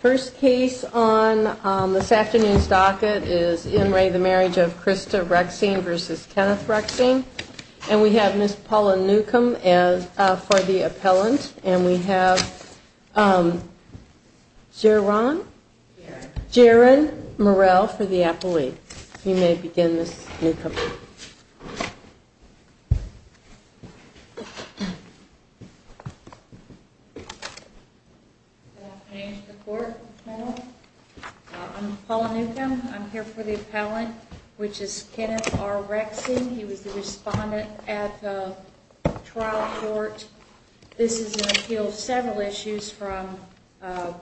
First case on this afternoon's docket is in re the marriage of Krista Rexing versus Kenneth Rexing and we have Miss Paula Newcomb as for the appellant and we have Jaron Morell for the appellate. You may begin Miss Newcomb. I'm Paula Newcomb. I'm here for the appellant which is Kenneth R. Rexing. He was the respondent at the trial court. This is an appeal of several issues from a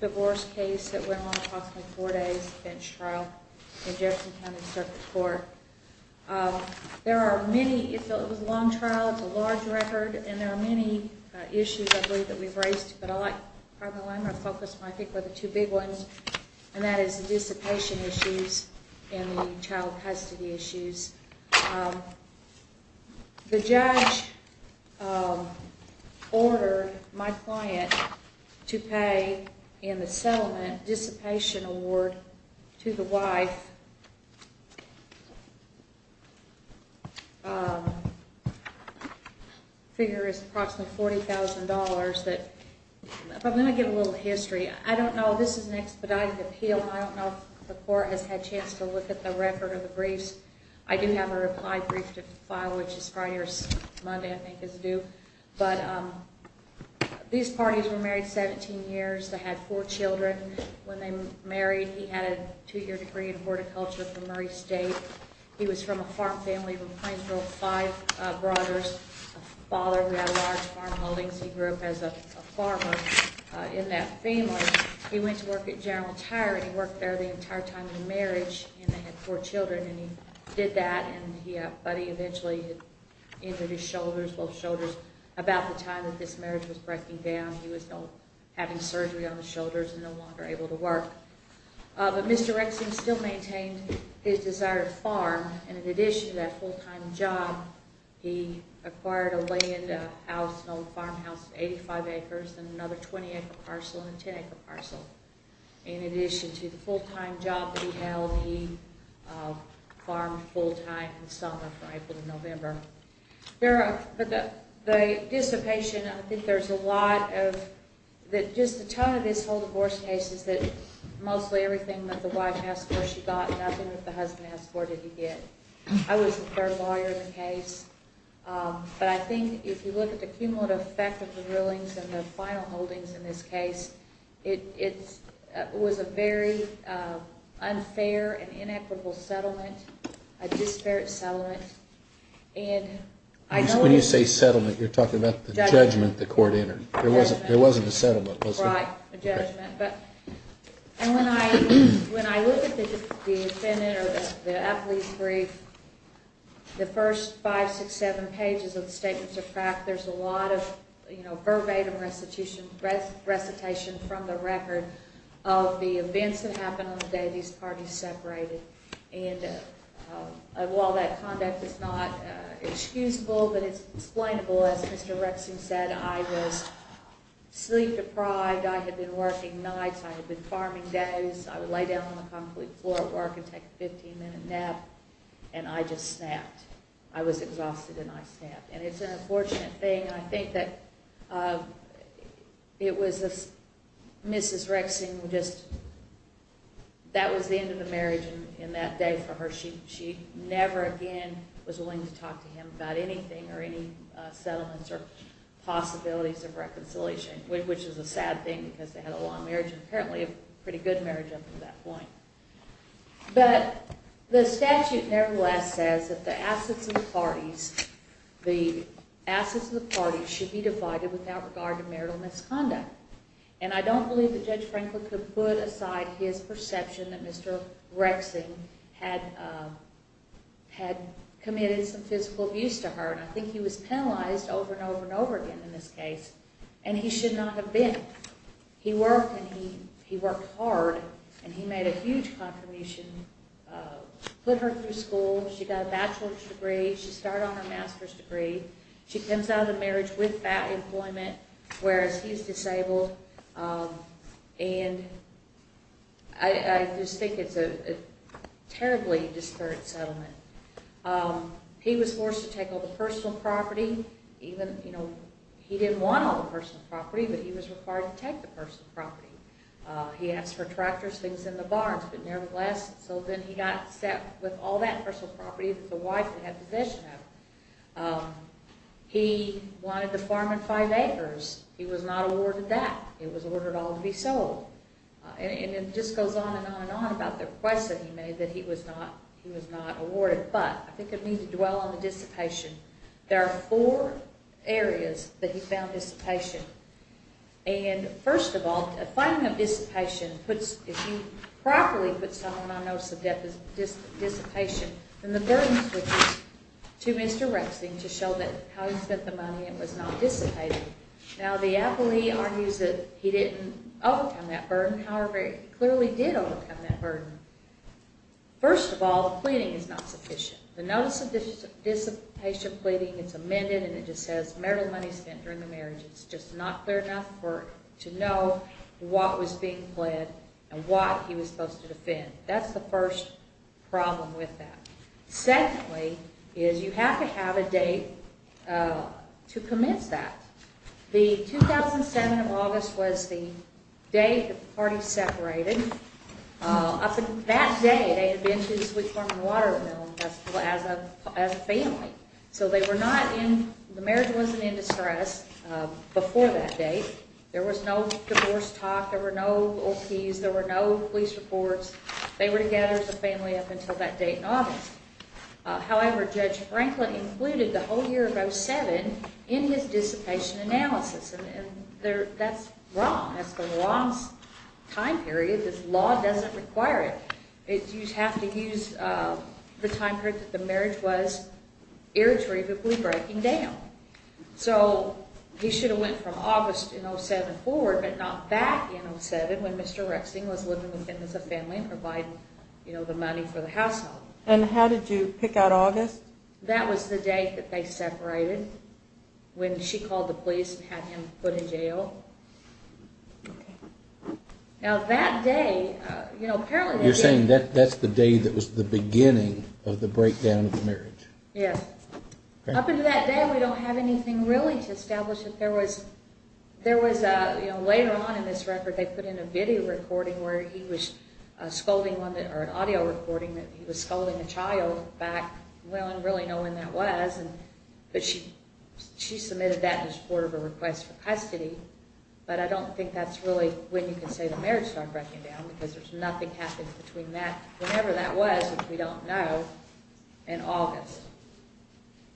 divorce case that went on approximately four days, bench trial in Jefferson County Circuit Court. There are many, it was a long trial, it's a large record and there are many issues I believe that we've raised but I like probably the one I'm going to focus on I think are the two big ones and that is the dissipation issues and the child custody issues. The judge ordered my client to pay in the settlement dissipation award to the wife, I figure it's approximately $40,000. If I'm going to give a little history, I don't know, this is an expedited appeal, I don't know if the court has had a chance to look at the record of the briefs. I do have a reply brief to file which is Friday or Monday I think is due but these parties were married 17 years. They had four children when they married. He had a two year degree in horticulture from Murray State. He was from a farm family from Plainsville, five brothers, a father who had a large farmholdings. He grew up as a farmer in that family. He went to work at General Tire and he worked there the entire time of the marriage and they had four children and he did that and he eventually injured his shoulders, both shoulders about the time that this marriage was breaking down. He was having surgery on the shoulders and no longer able to work. But Mr. Rexing still maintained his desire to farm and in addition to that full time job, he acquired a land, a house, an old farmhouse of 85 acres and another 20 acre parcel and a 10 acre parcel. In addition to the full time job that he held, he farmed full time in the summer from April to November. The dissipation, I think there's a lot of, just the tone of this whole divorce case is that mostly everything that the wife asked for she got, nothing that the husband asked for did he get. I was the third lawyer in the case but I think if you look at the cumulative effect of the rulings and the final holdings in this case, it was a very unfair and inequitable settlement, a disparate settlement. When you say settlement, you're talking about the judgment the court entered. There wasn't a settlement, was there? Right, a judgment. And when I look at the defendant or the athlete's brief, the first five, six, seven pages of the statements of fact, there's a lot of verbatim recitation from the record of the events that happened on the day these parties separated. And while that conduct is not excusable but it's explainable, as Mr. Rexing said, I was sleep deprived, I had been working nights, I had been farming days, I would lay down on the concrete floor at work and take a 15 minute nap and I just snapped. I was exhausted and I snapped. And it's an unfortunate thing and I think that it was Mrs. Rexing, that was the end of the marriage in that day for her. She never again was willing to talk to him about anything or any settlements or possibilities of reconciliation, which is a sad thing because they had a long marriage and apparently a pretty good marriage up to that point. But the statute nevertheless says that the assets of the parties should be divided without regard to marital misconduct. And I don't believe that Judge Franklin could put aside his perception that Mr. Rexing had committed some physical abuse to her. And I think he was penalized over and over and over again in this case and he should not have been. He worked and he worked hard and he made a huge contribution, put her through school, she got a bachelor's degree, she started on her master's degree, she comes out of the marriage with that employment whereas he's disabled and I just think it's a terribly disparate settlement. He was forced to take all the personal property. He didn't want all the personal property but he was required to take the personal property. He asked for tractors, things in the barns, but nevertheless, so then he got set with all that personal property that the wife had possession of. He wanted to farm in five acres. He was not awarded that. It was ordered all to be sold. And it just goes on and on and on about the request that he made that he was not awarded. But I think I need to dwell on the dissipation. There are four areas that he found dissipation. And first of all, a finding of dissipation puts, if you properly put something on notice of dissipation, then the burden switches to Mr. Rexing to show that how he spent the money, it was not dissipated. Now the appellee argues that he didn't overcome that burden, however he clearly did overcome that burden. First of all, the pleading is not sufficient. The notice of dissipation pleading is amended and it just says marital money spent during the marriage. It's just not clear enough to know what was being pled and what he was supposed to defend. That's the first problem with that. Secondly, is you have to have a date to commence that. The 2007 of August was the day the party separated. Up until that day, they had been to the Sweet Farm and Watermill Festival as a family. So they were not in, the marriage wasn't in distress before that date. There was no divorce talk, there were no OPs, there were no police reports. They were together as a family up until that date in August. However, Judge Franklin included the whole year of 2007 in his dissipation analysis. And that's wrong. That's the wrong time period. This law doesn't require it. You have to use the time period that the marriage was irretrievably breaking down. So he should have went from August in 2007 forward, but not back in 2007 when Mr. Rexing was living with him as a family and providing the money for the household. And how did you pick out August? That was the date that they separated, when she called the police and had him put in jail. You're saying that that's the day that was the beginning of the breakdown of the marriage? Yes. Up until that day, we don't have anything really to establish that there was. Later on in this record, they put in a video recording where he was scolding one, or an audio recording that he was scolding a child back, well, I don't really know when that was. But she submitted that in support of a request for custody. But I don't think that's really when you can say the marriage started breaking down, because there's nothing happening between that, whenever that was, which we don't know, and August.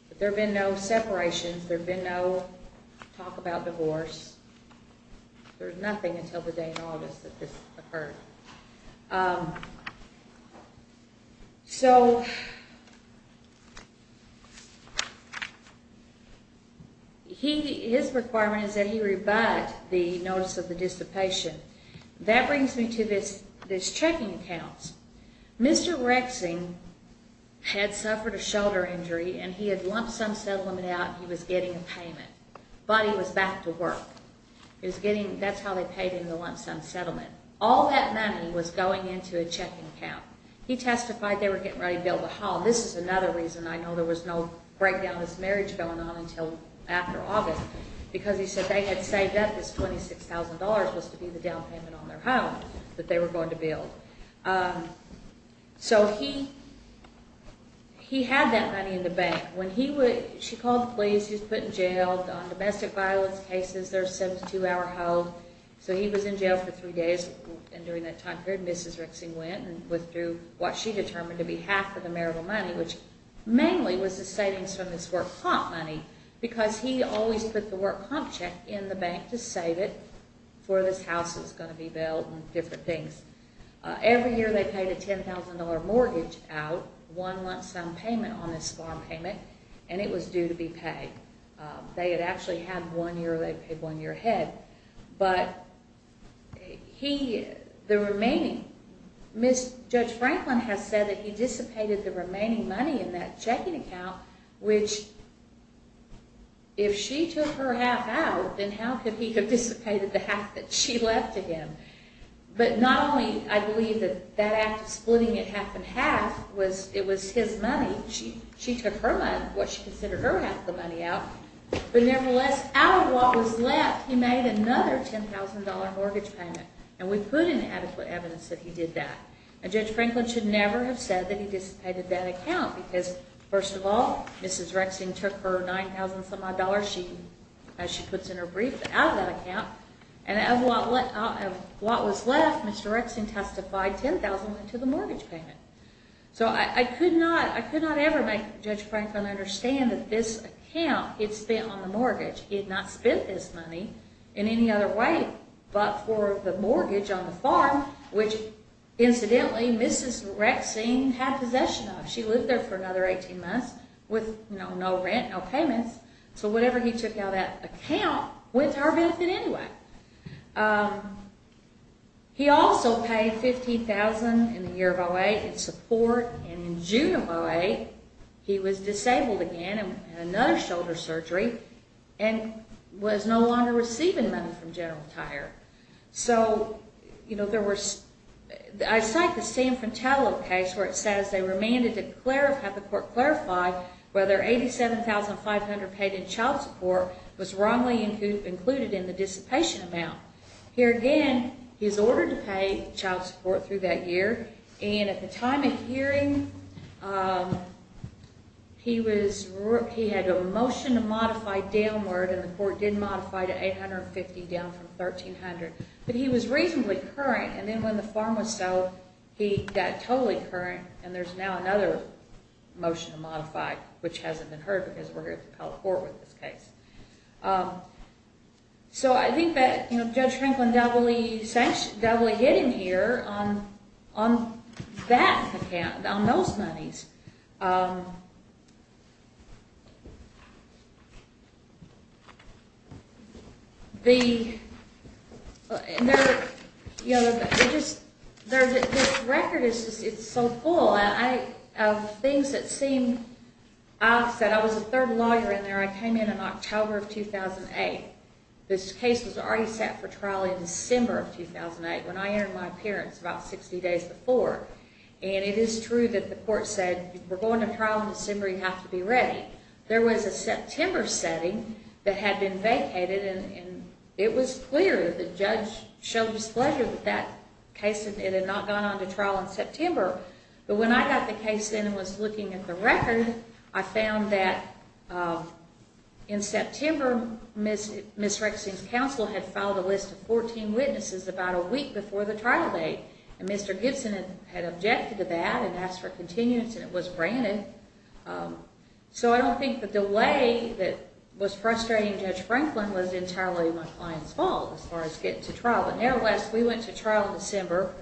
But there have been no separations. There have been no talk about divorce. There's nothing until the day in August that this occurred. So, his requirement is that he rebuy the notice of the dissipation. That brings me to his checking accounts. Mr. Rexing had suffered a shoulder injury, and he had lump sum settlement out, and he was getting a payment. But he was back to work. That's how they paid him the lump sum settlement. All that money was going into a checking account. He testified they were getting ready to build a home. This is another reason I know there was no breakdown of this marriage going on until after August, because he said they had saved up this $26,000, which was to be the down payment on their home that they were going to build. So, he had that money in the bank. She called the police. He was put in jail on domestic violence cases. They're a 72-hour hold. So, he was in jail for three days, and during that time period, Mrs. Rexing went and withdrew what she determined to be half of the marital money, which mainly was the savings from this work comp money, because he always put the work comp check in the bank to save it for this house that was going to be built and different things. Every year, they paid a $10,000 mortgage out, one lump sum payment on this farm payment, and it was due to be paid. They had actually had one year. They paid one year ahead, but the remaining, Judge Franklin has said that he dissipated the remaining money in that checking account, which if she took her half out, then how could he have dissipated the half that she left to him? But not only, I believe, that splitting it half and half, it was his money. She took what she considered her half of the money out, but nevertheless, out of what was left, he made another $10,000 mortgage payment, and we put in adequate evidence that he did that. Judge Franklin should never have said that he dissipated that account, because first of all, Mrs. Rexing took her $9,000-some-odd, as she puts in her brief, out of that account, and of what was left, Mr. Rexing testified $10,000 went to the mortgage payment. So I could not ever make Judge Franklin understand that this account, it's spent on the mortgage. He had not spent this money in any other way but for the mortgage on the farm, which incidentally, Mrs. Rexing had possession of. She lived there for another 18 months with no rent, no payments, so whatever he took out of that account went to her benefit anyway. He also paid $15,000 in the year of 08 in support, and in June of 08, he was disabled again in another shoulder surgery, and was no longer receiving money from General Tire. So, you know, there was, I cite the San Fratello case, where it says they remanded to have the court clarify whether $87,500 paid in child support was wrongly included in the dissipation amount. Here again, he was ordered to pay child support through that year, and at the time of hearing, he was, he had a motion to modify downward, and the court did modify to $850 down from $1,300. But he was reasonably current, and then when the farm was sold, he got totally current, and there's now another motion to modify, which hasn't been heard because we're here at the appellate court with this case. So I think that, you know, Judge Franklin doubly sanctioned, doubly hit him here on that account, on those monies. The, you know, it just, this record is just, it's so full of things that seem, I said I was the third lawyer in there, I came in in October of 2008. This case was already set for trial in December of 2008, when I entered my appearance about 60 days before, and it is true that the court said, we're going to trial in December, you have to be ready. There was a September setting that had been vacated, and it was clear that the judge showed displeasure with that case, and it had not gone on to trial in September. But when I got the case in and was looking at the record, I found that in September, Ms. Rexing's counsel had filed a list of 14 witnesses about a week before the trial date. And Mr. Gibson had objected to that, and asked for continuance, and it was granted. So I don't think the delay that was frustrating Judge Franklin was entirely my client's fault, as far as getting to trial. Nevertheless, we went to trial in December.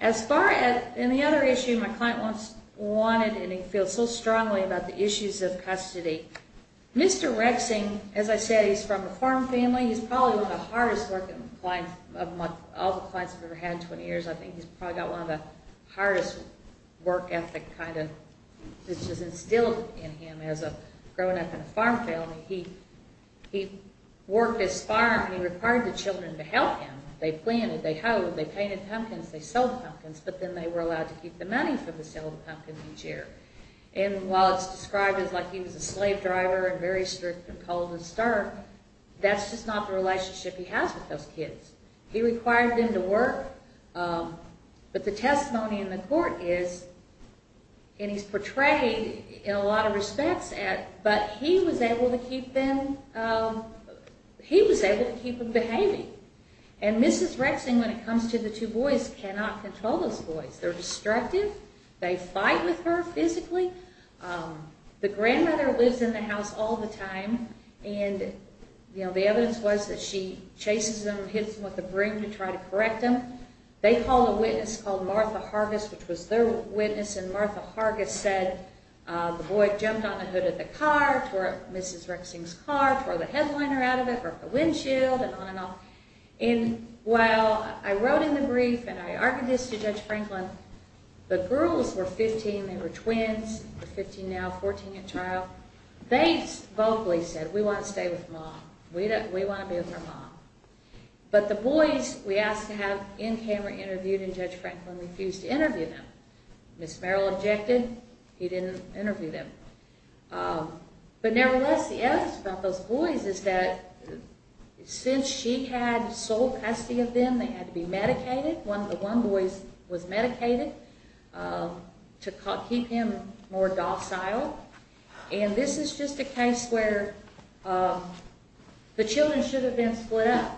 As far as, and the other issue my client wanted, and he feels so strongly about the issues of custody, Mr. Rexing, as I said, he's from a farm family, he's probably one of the hardest working clients, of all the clients I've ever had in 20 years, I think he's probably got one of the hardest work ethic kind of, which is instilled in him as a, growing up in a farm family. He worked his farm, he required the children to help him. They planted, they hoed, they painted pumpkins, they sold pumpkins, but then they were allowed to keep the money for the sale of the pumpkins each year. And while it's described as like he was a slave driver, and very strict and cold and stark, that's just not the relationship he has with those kids. He required them to work, but the testimony in the court is, and he's portrayed in a lot of respects, but he was able to keep them, he was able to keep them behaving. And Mrs. Rexing, when it comes to the two boys, cannot control those boys. They're destructive, they fight with her physically. The grandmother lives in the house all the time, and the evidence was that she chases them, hits them with the broom to try to correct them. They call a witness called Martha Hargis, which was their witness, and Martha Hargis said the boy jumped on the hood of the car, tore up Mrs. Rexing's car, tore the headliner out of it, broke the windshield, and on and off. And while I wrote in the brief and I argued this to Judge Franklin, the girls were 15, they were twins, they're 15 now, 14 at trial. They vocally said, we want to stay with mom, we want to be with our mom. But the boys we asked to have in camera interviewed, and Judge Franklin refused to interview them. Ms. Merrill objected, he didn't interview them. But nevertheless, the evidence about those boys is that since she had sole custody of them, they had to be medicated. One of the boys was medicated to keep him more docile. And this is just a case where the children should have been split up.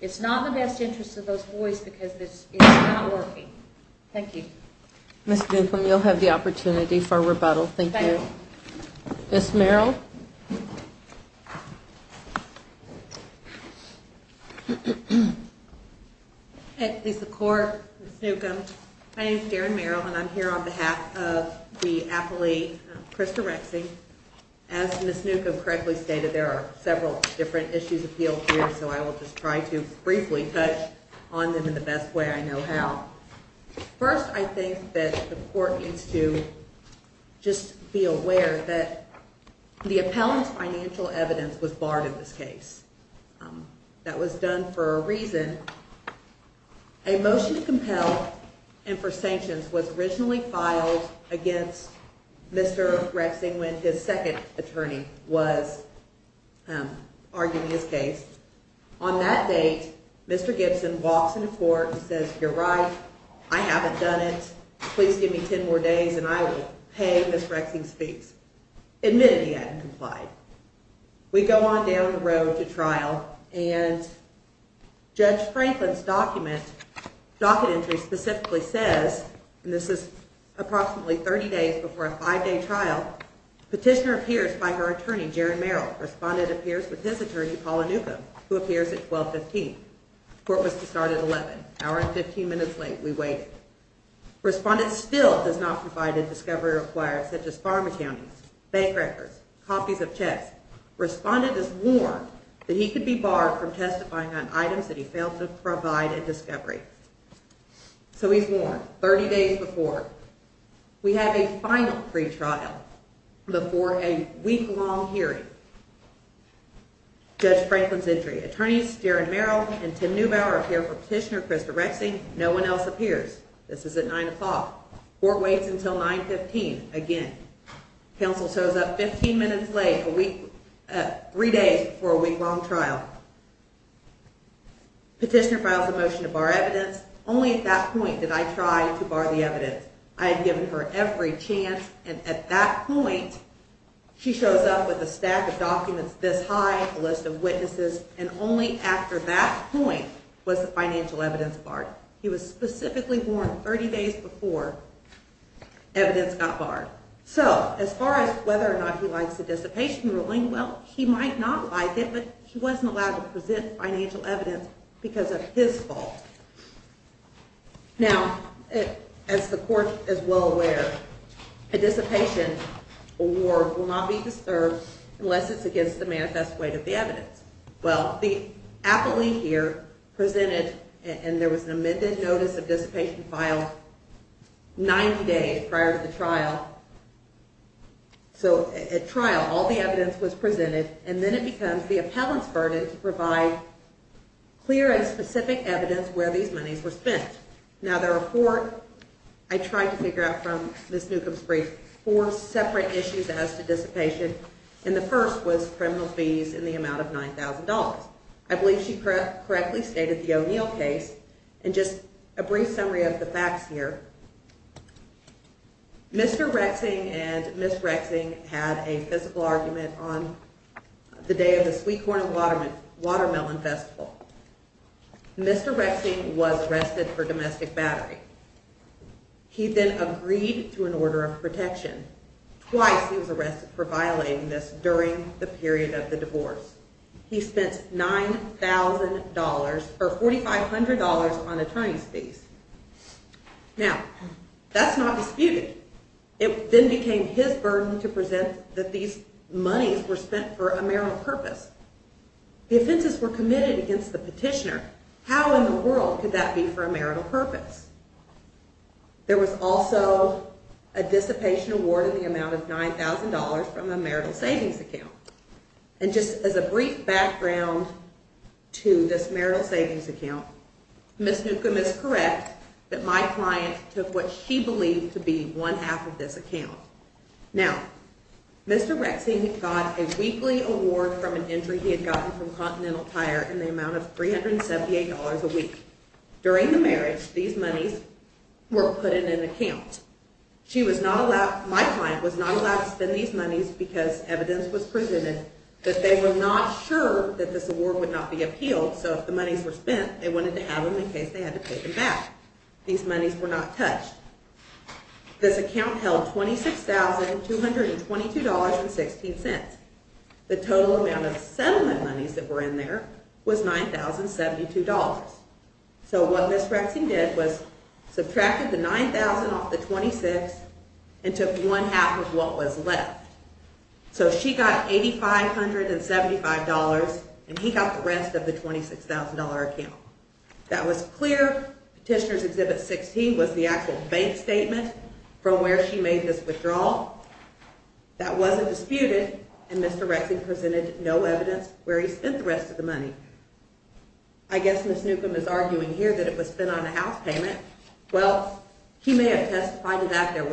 It's not in the best interest of those boys because it's not working. Thank you. Ms. Newcomb, you'll have the opportunity for rebuttal. Thank you. Ms. Merrill? At the court, Ms. Newcomb, my name is Darren Merrill, and I'm here on behalf of the appellee, Krista Rexing. As Ms. Newcomb correctly stated, there are several different issues appealed here, so I will just try to briefly touch on them in the best way I know how. First, I think that the court needs to just be aware that the appellant's financial evidence was barred in this case. That was done for a reason. A motion to compel him for sanctions was originally filed against Mr. Rexing when his second attorney was arguing his case. On that date, Mr. Gibson walks into court and says, You're right, I haven't done it, please give me 10 more days and I will pay Ms. Rexing's fees. Admittedly, he hadn't complied. We go on down the road to trial, and Judge Franklin's docket entry specifically says, and this is approximately 30 days before a 5-day trial, Petitioner appears by her attorney, Darren Merrill. Respondent appears with his attorney, Paula Newcomb, who appears at 1215. Court was to start at 11, an hour and 15 minutes late. We waited. Respondent still does not provide a discovery required, such as pharma counties, bank records, copies of checks. Respondent is warned that he could be barred from testifying on items that he failed to provide a discovery. So he's warned, 30 days before. We have a final pre-trial before a week-long hearing. Judge Franklin's entry. Attorneys Darren Merrill and Tim Neubauer appear for Petitioner Christopher Rexing. No one else appears. This is at 9 o'clock. Court waits until 915, again. Counsel shows up 15 minutes late, 3 days before a week-long trial. Petitioner files a motion to bar evidence. Only at that point did I try to bar the evidence. I had given her every chance, and at that point, she shows up with a stack of documents this high, a list of witnesses, and only after that point was the financial evidence barred. He was specifically warned 30 days before evidence got barred. So, as far as whether or not he likes the dissipation ruling, well, he might not like it, but he wasn't allowed to present financial evidence because of his fault. Now, as the Court is well aware, a dissipation award will not be disturbed unless it's against the manifest weight of the evidence. Well, the appellee here presented, and there was an amended notice of dissipation filed 90 days prior to the trial. So, at trial, all the evidence was presented, and then it becomes the appellant's burden to provide clear and specific evidence where these monies were spent. Now, the report I tried to figure out from Ms. Newcomb's brief, four separate issues as to dissipation, and the first was criminal fees in the amount of $9,000. I believe she correctly stated the O'Neill case, and just a brief summary of the facts here. Mr. Rexing and Ms. Rexing had a physical argument on the day of the Sweet Corn and Watermelon Festival. Mr. Rexing was arrested for domestic battery. He then agreed to an order of protection. Twice he was arrested for violating this during the period of the divorce. He spent $9,000, or $4,500 on attorney's fees. Now, that's not disputed. It then became his burden to present that these monies were spent for a marital purpose. The offenses were committed against the petitioner. How in the world could that be for a marital purpose? There was also a dissipation award in the amount of $9,000 from a marital savings account. And just as a brief background to this marital savings account, Ms. Newcomb is correct that my client took what she believed to be one half of this account. Now, Mr. Rexing got a weekly award from an injury he had gotten from continental tire in the amount of $378 a week. During the marriage, these monies were put in an account. My client was not allowed to spend these monies because evidence was presented that they were not sure that this award would not be appealed. So if the monies were spent, they wanted to have them in case they had to pay them back. These monies were not touched. This account held $26,222.16. The total amount of settlement monies that were in there was $9,072. So what Ms. Rexing did was subtracted the $9,000 off the $26,222.16 and took one half of what was left. So she got $8,575 and he got the rest of the $26,000 account. That was clear. Petitioner's Exhibit 16 was the actual bank statement from where she made this withdrawal. That wasn't disputed and Mr. Rexing presented no evidence where he spent the rest of the money. I guess Ms. Newcomb is arguing here that it was spent on a house payment. Well, he may have testified that there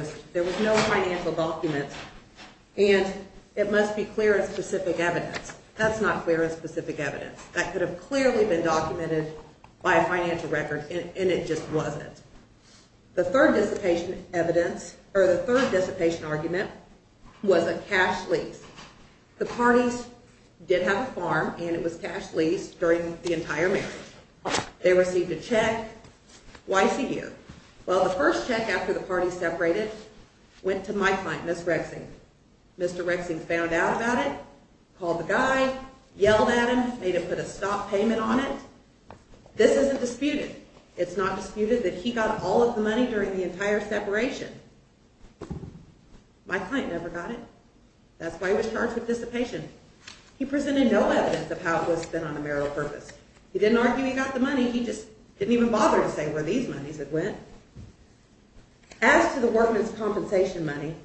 was no financial document and it must be clear and specific evidence. That's not clear and specific evidence. That could have clearly been documented by a financial record and it just wasn't. The third dissipation argument was a cash lease. The parties did have a farm and it was cash leased during the entire marriage. They received a check. Why CU? Well, the first check after the parties separated went to my client, Ms. Rexing. Mr. Rexing found out about it, called the guy, yelled at him, made him put a stop payment on it. This isn't disputed. It's not disputed that he got all of the money during the entire separation. My client never got it. That's why he was charged with dissipation. He presented no evidence of how it was spent on a marital purpose. He didn't argue he got the money. He just didn't even bother to say where these monies had went. As to the workman's compensation money,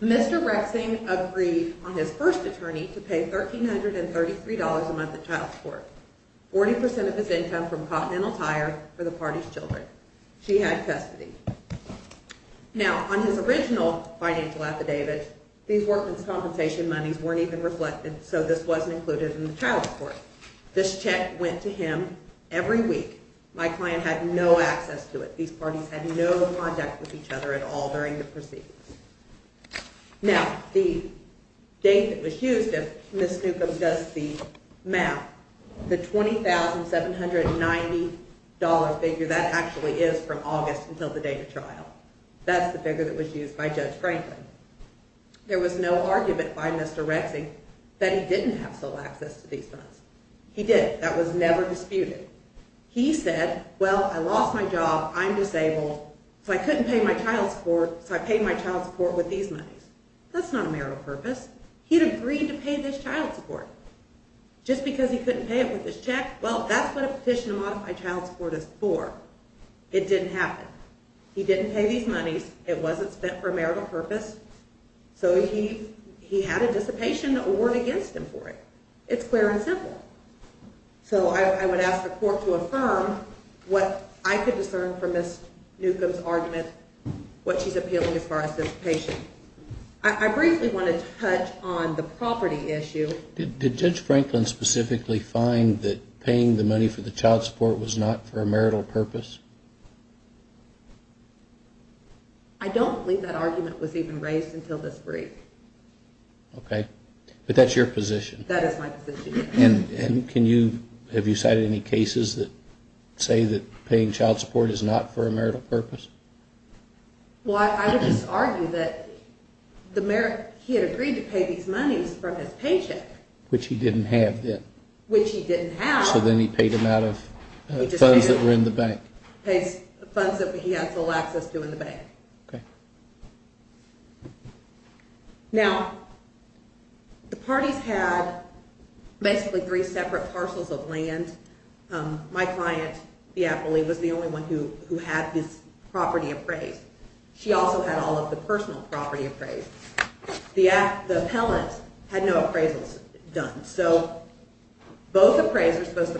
Mr. Rexing agreed on his first attorney to pay $1,333 a month at child support, 40% of his income from continental tire for the party's children. She had custody. Now, on his original financial affidavit, these workman's compensation monies weren't even reflected, so this wasn't included in the child support. This check went to him every week. My client had no access to it. These parties had no contact with each other at all during the proceedings. Now, the date that was used, if Ms. Newcomb does the math, the $20,790 figure, that actually is from August until the date of trial, that's the figure that was used by Judge Franklin. There was no argument by Mr. Rexing that he didn't have sole access to these funds. He did. That was never disputed. He said, well, I lost my job, I'm disabled, so I couldn't pay my child support, so I paid my child support with these monies. That's not a marital purpose. He had agreed to pay this child support. Just because he couldn't pay it with this check, well, that's what a petition to modify child support is for. It didn't happen. He didn't pay these monies. It wasn't spent for a marital purpose. So he had a dissipation award against him for it. It's clear and simple. So I would ask the court to affirm what I could discern from Ms. Newcomb's argument, what she's appealing as far as dissipation. I briefly want to touch on the property issue. Did Judge Franklin specifically find that paying the money for the child support was not for a marital purpose? I don't believe that argument was even raised until this brief. Okay. But that's your position. That is my position, yes. And can you, have you cited any cases that say that paying child support is not for a marital purpose? Well, I would just argue that the merit, he had agreed to pay these monies from his paycheck. Which he didn't have then. Which he didn't have. So then he paid them out of funds that were in the bank. Funds that he had full access to in the bank. Okay. Now, the parties had basically three separate parcels of land. And my client, the appellee, was the only one who had this property appraised. She also had all of the personal property appraised. The appellant had no appraisals done. So both appraisers, both the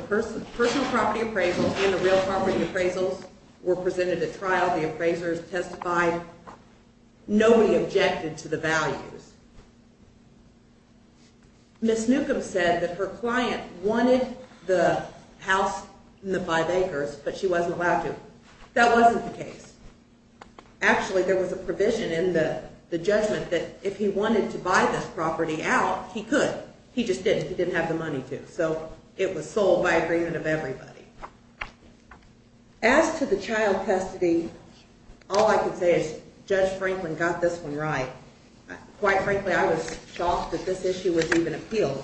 personal property appraisals and the real property appraisals were presented at trial. The appraisers testified. Nobody objected to the values. Ms. Newcomb said that her client wanted the house in the Five Acres, but she wasn't allowed to. That wasn't the case. Actually, there was a provision in the judgment that if he wanted to buy this property out, he could. He just didn't. He didn't have the money to. So it was sold by agreement of everybody. As to the child custody, all I can say is Judge Franklin got this one right. Quite frankly, I was shocked that this issue was even appealed.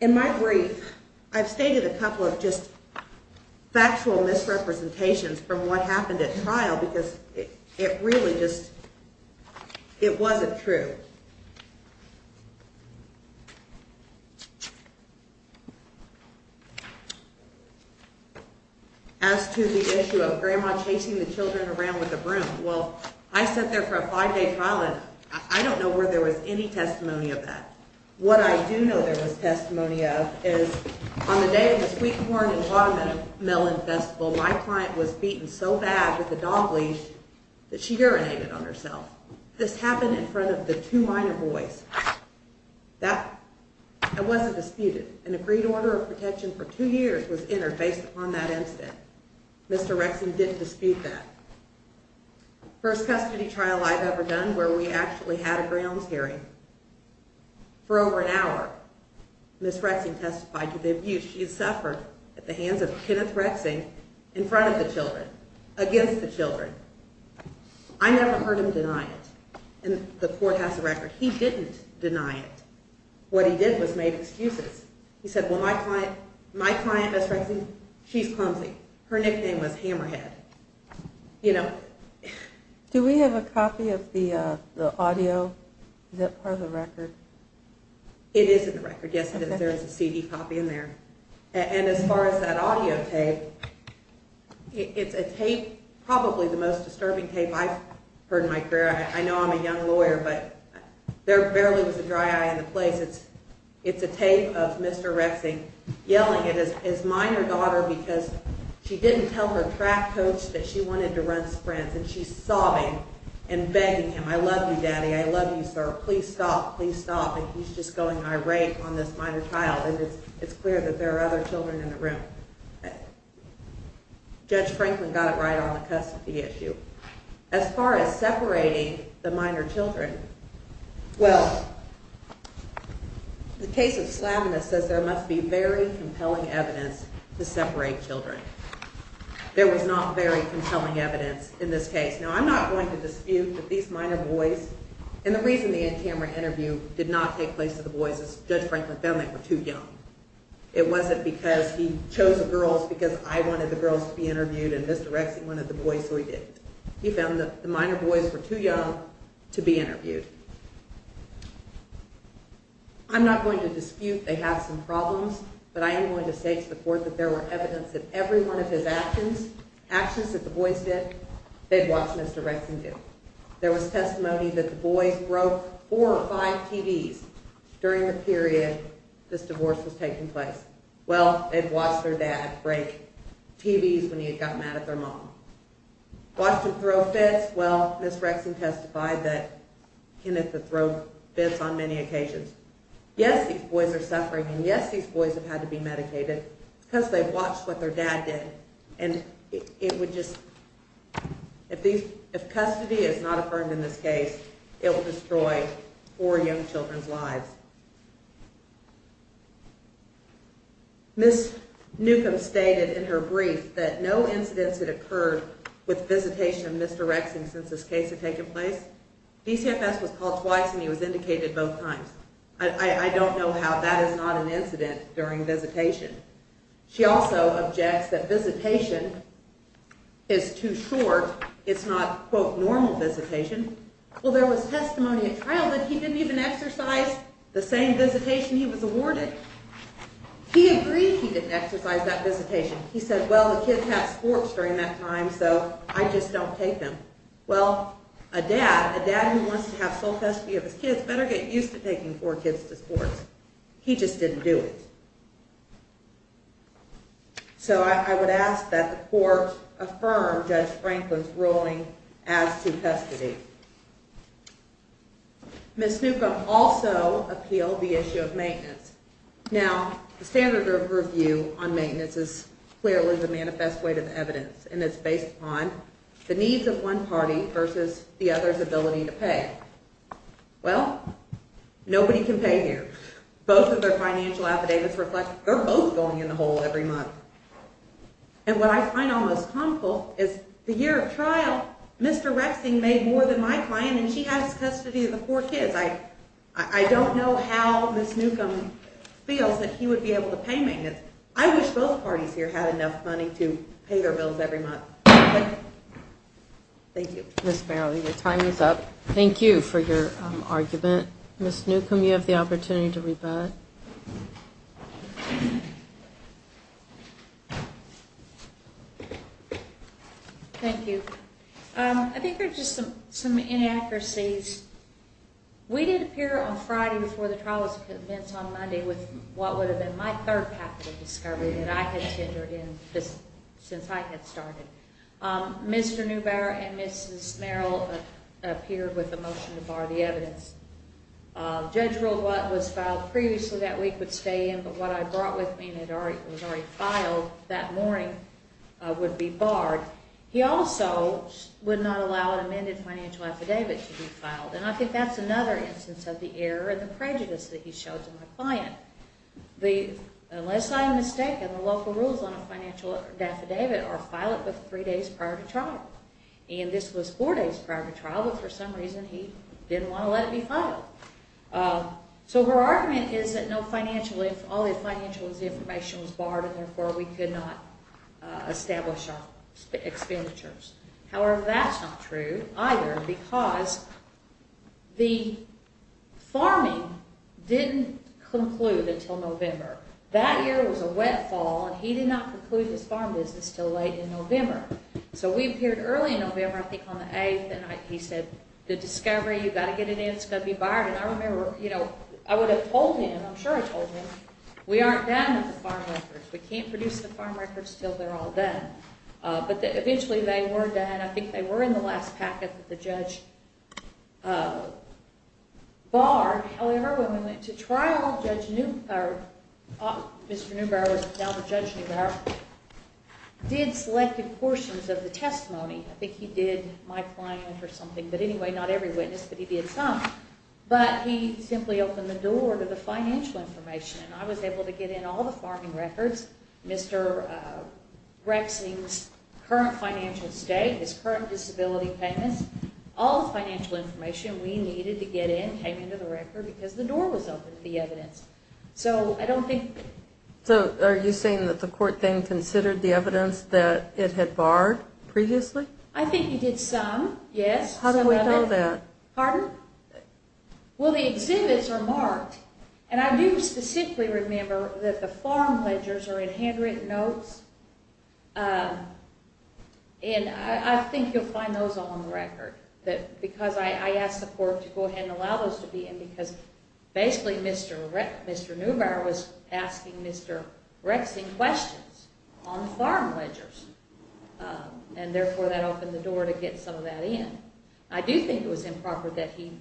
In my brief, I've stated a couple of just factual misrepresentations from what happened at trial because it really just, it wasn't true. As to the issue of Grandma chasing the children around with the broom, well, I sat there for a five-day trial and I don't know where there was any testimony of that. What I do know there was testimony of is on the day of the Sweet Corn and Watermelon Festival, my client was beaten so bad with a dog leash that she urinated on herself. This happened in front of the two minor boys. That wasn't disputed. An agreed order of protection for two years was entered based upon that incident. Mr. Rexing didn't dispute that. First custody trial I've ever done where we actually had a grounds hearing. For over an hour, Ms. Rexing testified to the abuse she suffered at the hands of Kenneth Rexing in front of the children, against the children. I never heard him deny it. The court has the record. He didn't deny it. What he did was made excuses. He said, well, my client, Ms. Rexing, she's clumsy. Her nickname was Hammerhead. Do we have a copy of the audio? Is that part of the record? It is in the record, yes. There is a CD copy in there. And as far as that audio tape, it's a tape, probably the most disturbing tape I've heard in my career. I know I'm a young lawyer, but there barely was a dry eye in the place. It's a tape of Mr. Rexing yelling at his minor daughter because she didn't tell her track coach that she wanted to run sprints, and she's sobbing and begging him. I love you, Daddy. I love you, sir. Please stop. Please stop. And he's just going irate on this minor child. And it's clear that there are other children in the room. Judge Franklin got it right on the custody issue. As far as separating the minor children, well, the case of Slavina says there must be very compelling evidence to separate children. There was not very compelling evidence in this case. Now, I'm not going to dispute that these minor boys, and the reason the in-camera interview did not take place to the boys is because Judge Franklin found they were too young. It wasn't because he chose the girls because I wanted the girls to be interviewed and Mr. Rexing wanted the boys, so he did. He found that the minor boys were too young to be interviewed. I'm not going to dispute they have some problems, but I am going to say to the court that there were evidence that every one of his actions, actions that the boys did, they'd watch Mr. Rexing do. There was testimony that the boys broke four or five TVs during the period this divorce was taking place. Well, they'd watched their dad break TVs when he had gotten mad at their mom. Watched him throw fits? Well, Ms. Rexing testified that Kenneth would throw fits on many occasions. Yes, these boys are suffering, and yes, these boys have had to be medicated because they've watched what their dad did. If custody is not affirmed in this case, it will destroy four young children's lives. Ms. Newcomb stated in her brief that no incidents had occurred with visitation of Mr. Rexing since this case had taken place. DCFS was called twice, and he was indicated both times. I don't know how that is not an incident during visitation. She also objects that visitation is too short. It's not, quote, normal visitation. Well, there was testimony at trial that he didn't even exercise the same visitation he was awarded. He agreed he didn't exercise that visitation. He said, well, the kids had sports during that time, so I just don't take them. Well, a dad, a dad who wants to have sole custody of his kids better get used to taking four kids to sports. He just didn't do it. So I would ask that the court affirm Judge Franklin's ruling as to custody. Ms. Newcomb also appealed the issue of maintenance. Now, the standard of review on maintenance is clearly the manifest weight of evidence, and it's based upon the needs of one party versus the other's ability to pay. Well, nobody can pay here. Both of their financial affidavits reflect they're both going in the hole every month. And what I find almost comical is the year of trial, Mr. Rexing made more than my client, and she has custody of the four kids. I don't know how Ms. Newcomb feels that he would be able to pay maintenance. I wish both parties here had enough money to pay their bills every month. Thank you. Ms. Farrelly, your time is up. Thank you for your argument. Ms. Newcomb, you have the opportunity to rebut. Thank you. I think there are just some inaccuracies. We did appear on Friday before the trial was commenced on Monday with what would have been my third packet of discovery that I had tendered in since I had started. Mr. Neubauer and Mrs. Merrill appeared with a motion to bar the evidence. The judge ruled what was filed previously that week would stay in, but what I brought with me and was already filed that morning would be barred. He also would not allow an amended financial affidavit to be filed, and I think that's another instance of the error and the prejudice that he showed to my client. Unless I am mistaken, the local rules on a financial affidavit are file it three days prior to trial, and this was four days prior to trial, but for some reason he didn't want to let it be filed. So her argument is that all the financial information was barred, and therefore we could not establish our expenditures. However, that's not true either, because the farming didn't conclude until November. That year was a wet fall, and he did not conclude his farm business until late in November. So we appeared early in November, I think on the 8th, and he said, the discovery, you've got to get it in, it's going to be barred. And I remember, you know, I would have told him, I'm sure I told him, we aren't done with the farm records, we can't produce the farm records until they're all done. But eventually they were done, I think they were in the last packet that the judge barred. However, when we went to trial, Judge Neubauer, Mr. Neubauer was now the Judge Neubauer, did selected portions of the testimony. I think he did my client or something, but anyway, not every witness, but he did some. But he simply opened the door to the financial information, and I was able to get in all the farming records, Mr. Grexing's current financial state, his current disability payments, all the financial information we needed to get in came into the record because the door was open to the evidence. So I don't think... So are you saying that the court then considered the evidence that it had barred previously? I think he did some, yes. How do we know that? Pardon? Well, the exhibits are marked, and I do specifically remember that the farm ledgers are in handwritten notes, and I think you'll find those all on the record, because I asked the court to go ahead and allow those to be in because basically Mr. Neubauer was asking Mr. Grexing questions on the farm ledgers, and therefore that opened the door to get some of that in. I do think it was improper that he...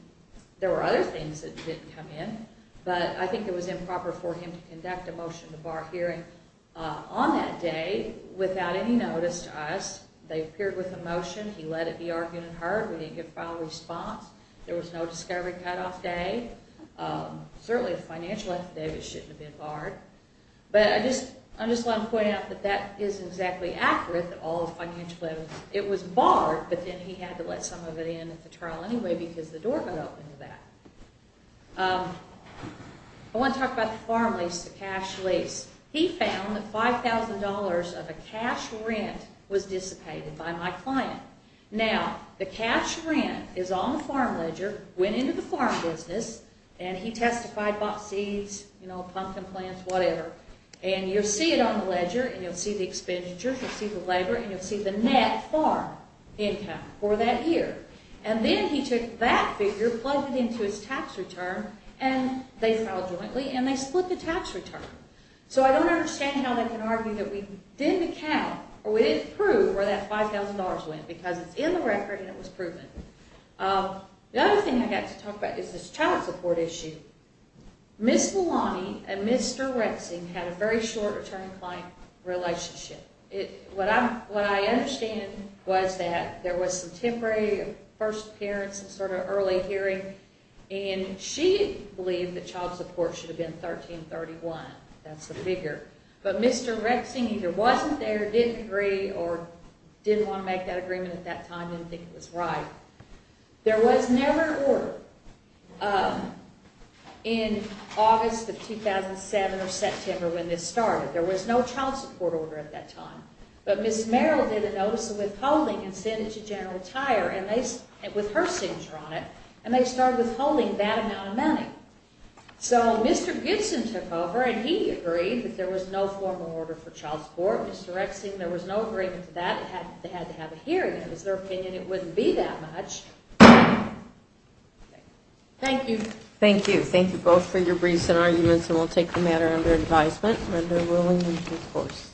There were other things that didn't come in, but I think it was improper for him to conduct a motion to bar hearing on that day without any notice to us. They appeared with a motion. He let it be argued and heard. We didn't get a final response. There was no discovery cutoff day. Certainly a financial affidavit shouldn't have been barred. But I just want to point out that that is exactly accurate, It was barred, but then he had to let some of it in at the trial anyway because the door got opened to that. I want to talk about the farm lease, the cash lease. He found that $5,000 of a cash rent was dissipated by my client. Now, the cash rent is on the farm ledger, went into the farm business, and he testified, bought seeds, pumpkin plants, whatever, and you'll see it on the ledger, and you'll see the expenditures, you'll see the labor, and you'll see the net farm income for that year. And then he took that figure, plugged it into his tax return, and they filed jointly, and they split the tax return. So I don't understand how they can argue that we didn't account or we didn't prove where that $5,000 went because it's in the record and it was proven. The other thing I got to talk about is this child support issue. Ms. Malani and Mr. Rexing had a very short return-to-client relationship. What I understand was that there was some temporary first appearance, some sort of early hearing, and she believed that child support should have been 1331. That's the figure. But Mr. Rexing either wasn't there, didn't agree, or didn't want to make that agreement at that time, didn't think it was right. There was never an order in August of 2007 or September when this started. There was no child support order at that time. But Ms. Merrill did a notice of withholding and sent it to General Tire with her signature on it, and they started withholding that amount of money. So Mr. Gibson took over, and he agreed that there was no formal order for child support. Mr. Rexing, there was no agreement to that. They had to have a hearing. It was their opinion. It wouldn't be that much. Thank you. Thank you. Thank you both for your briefs and arguments, and we'll take the matter under advisement. Remember, ruling is a force.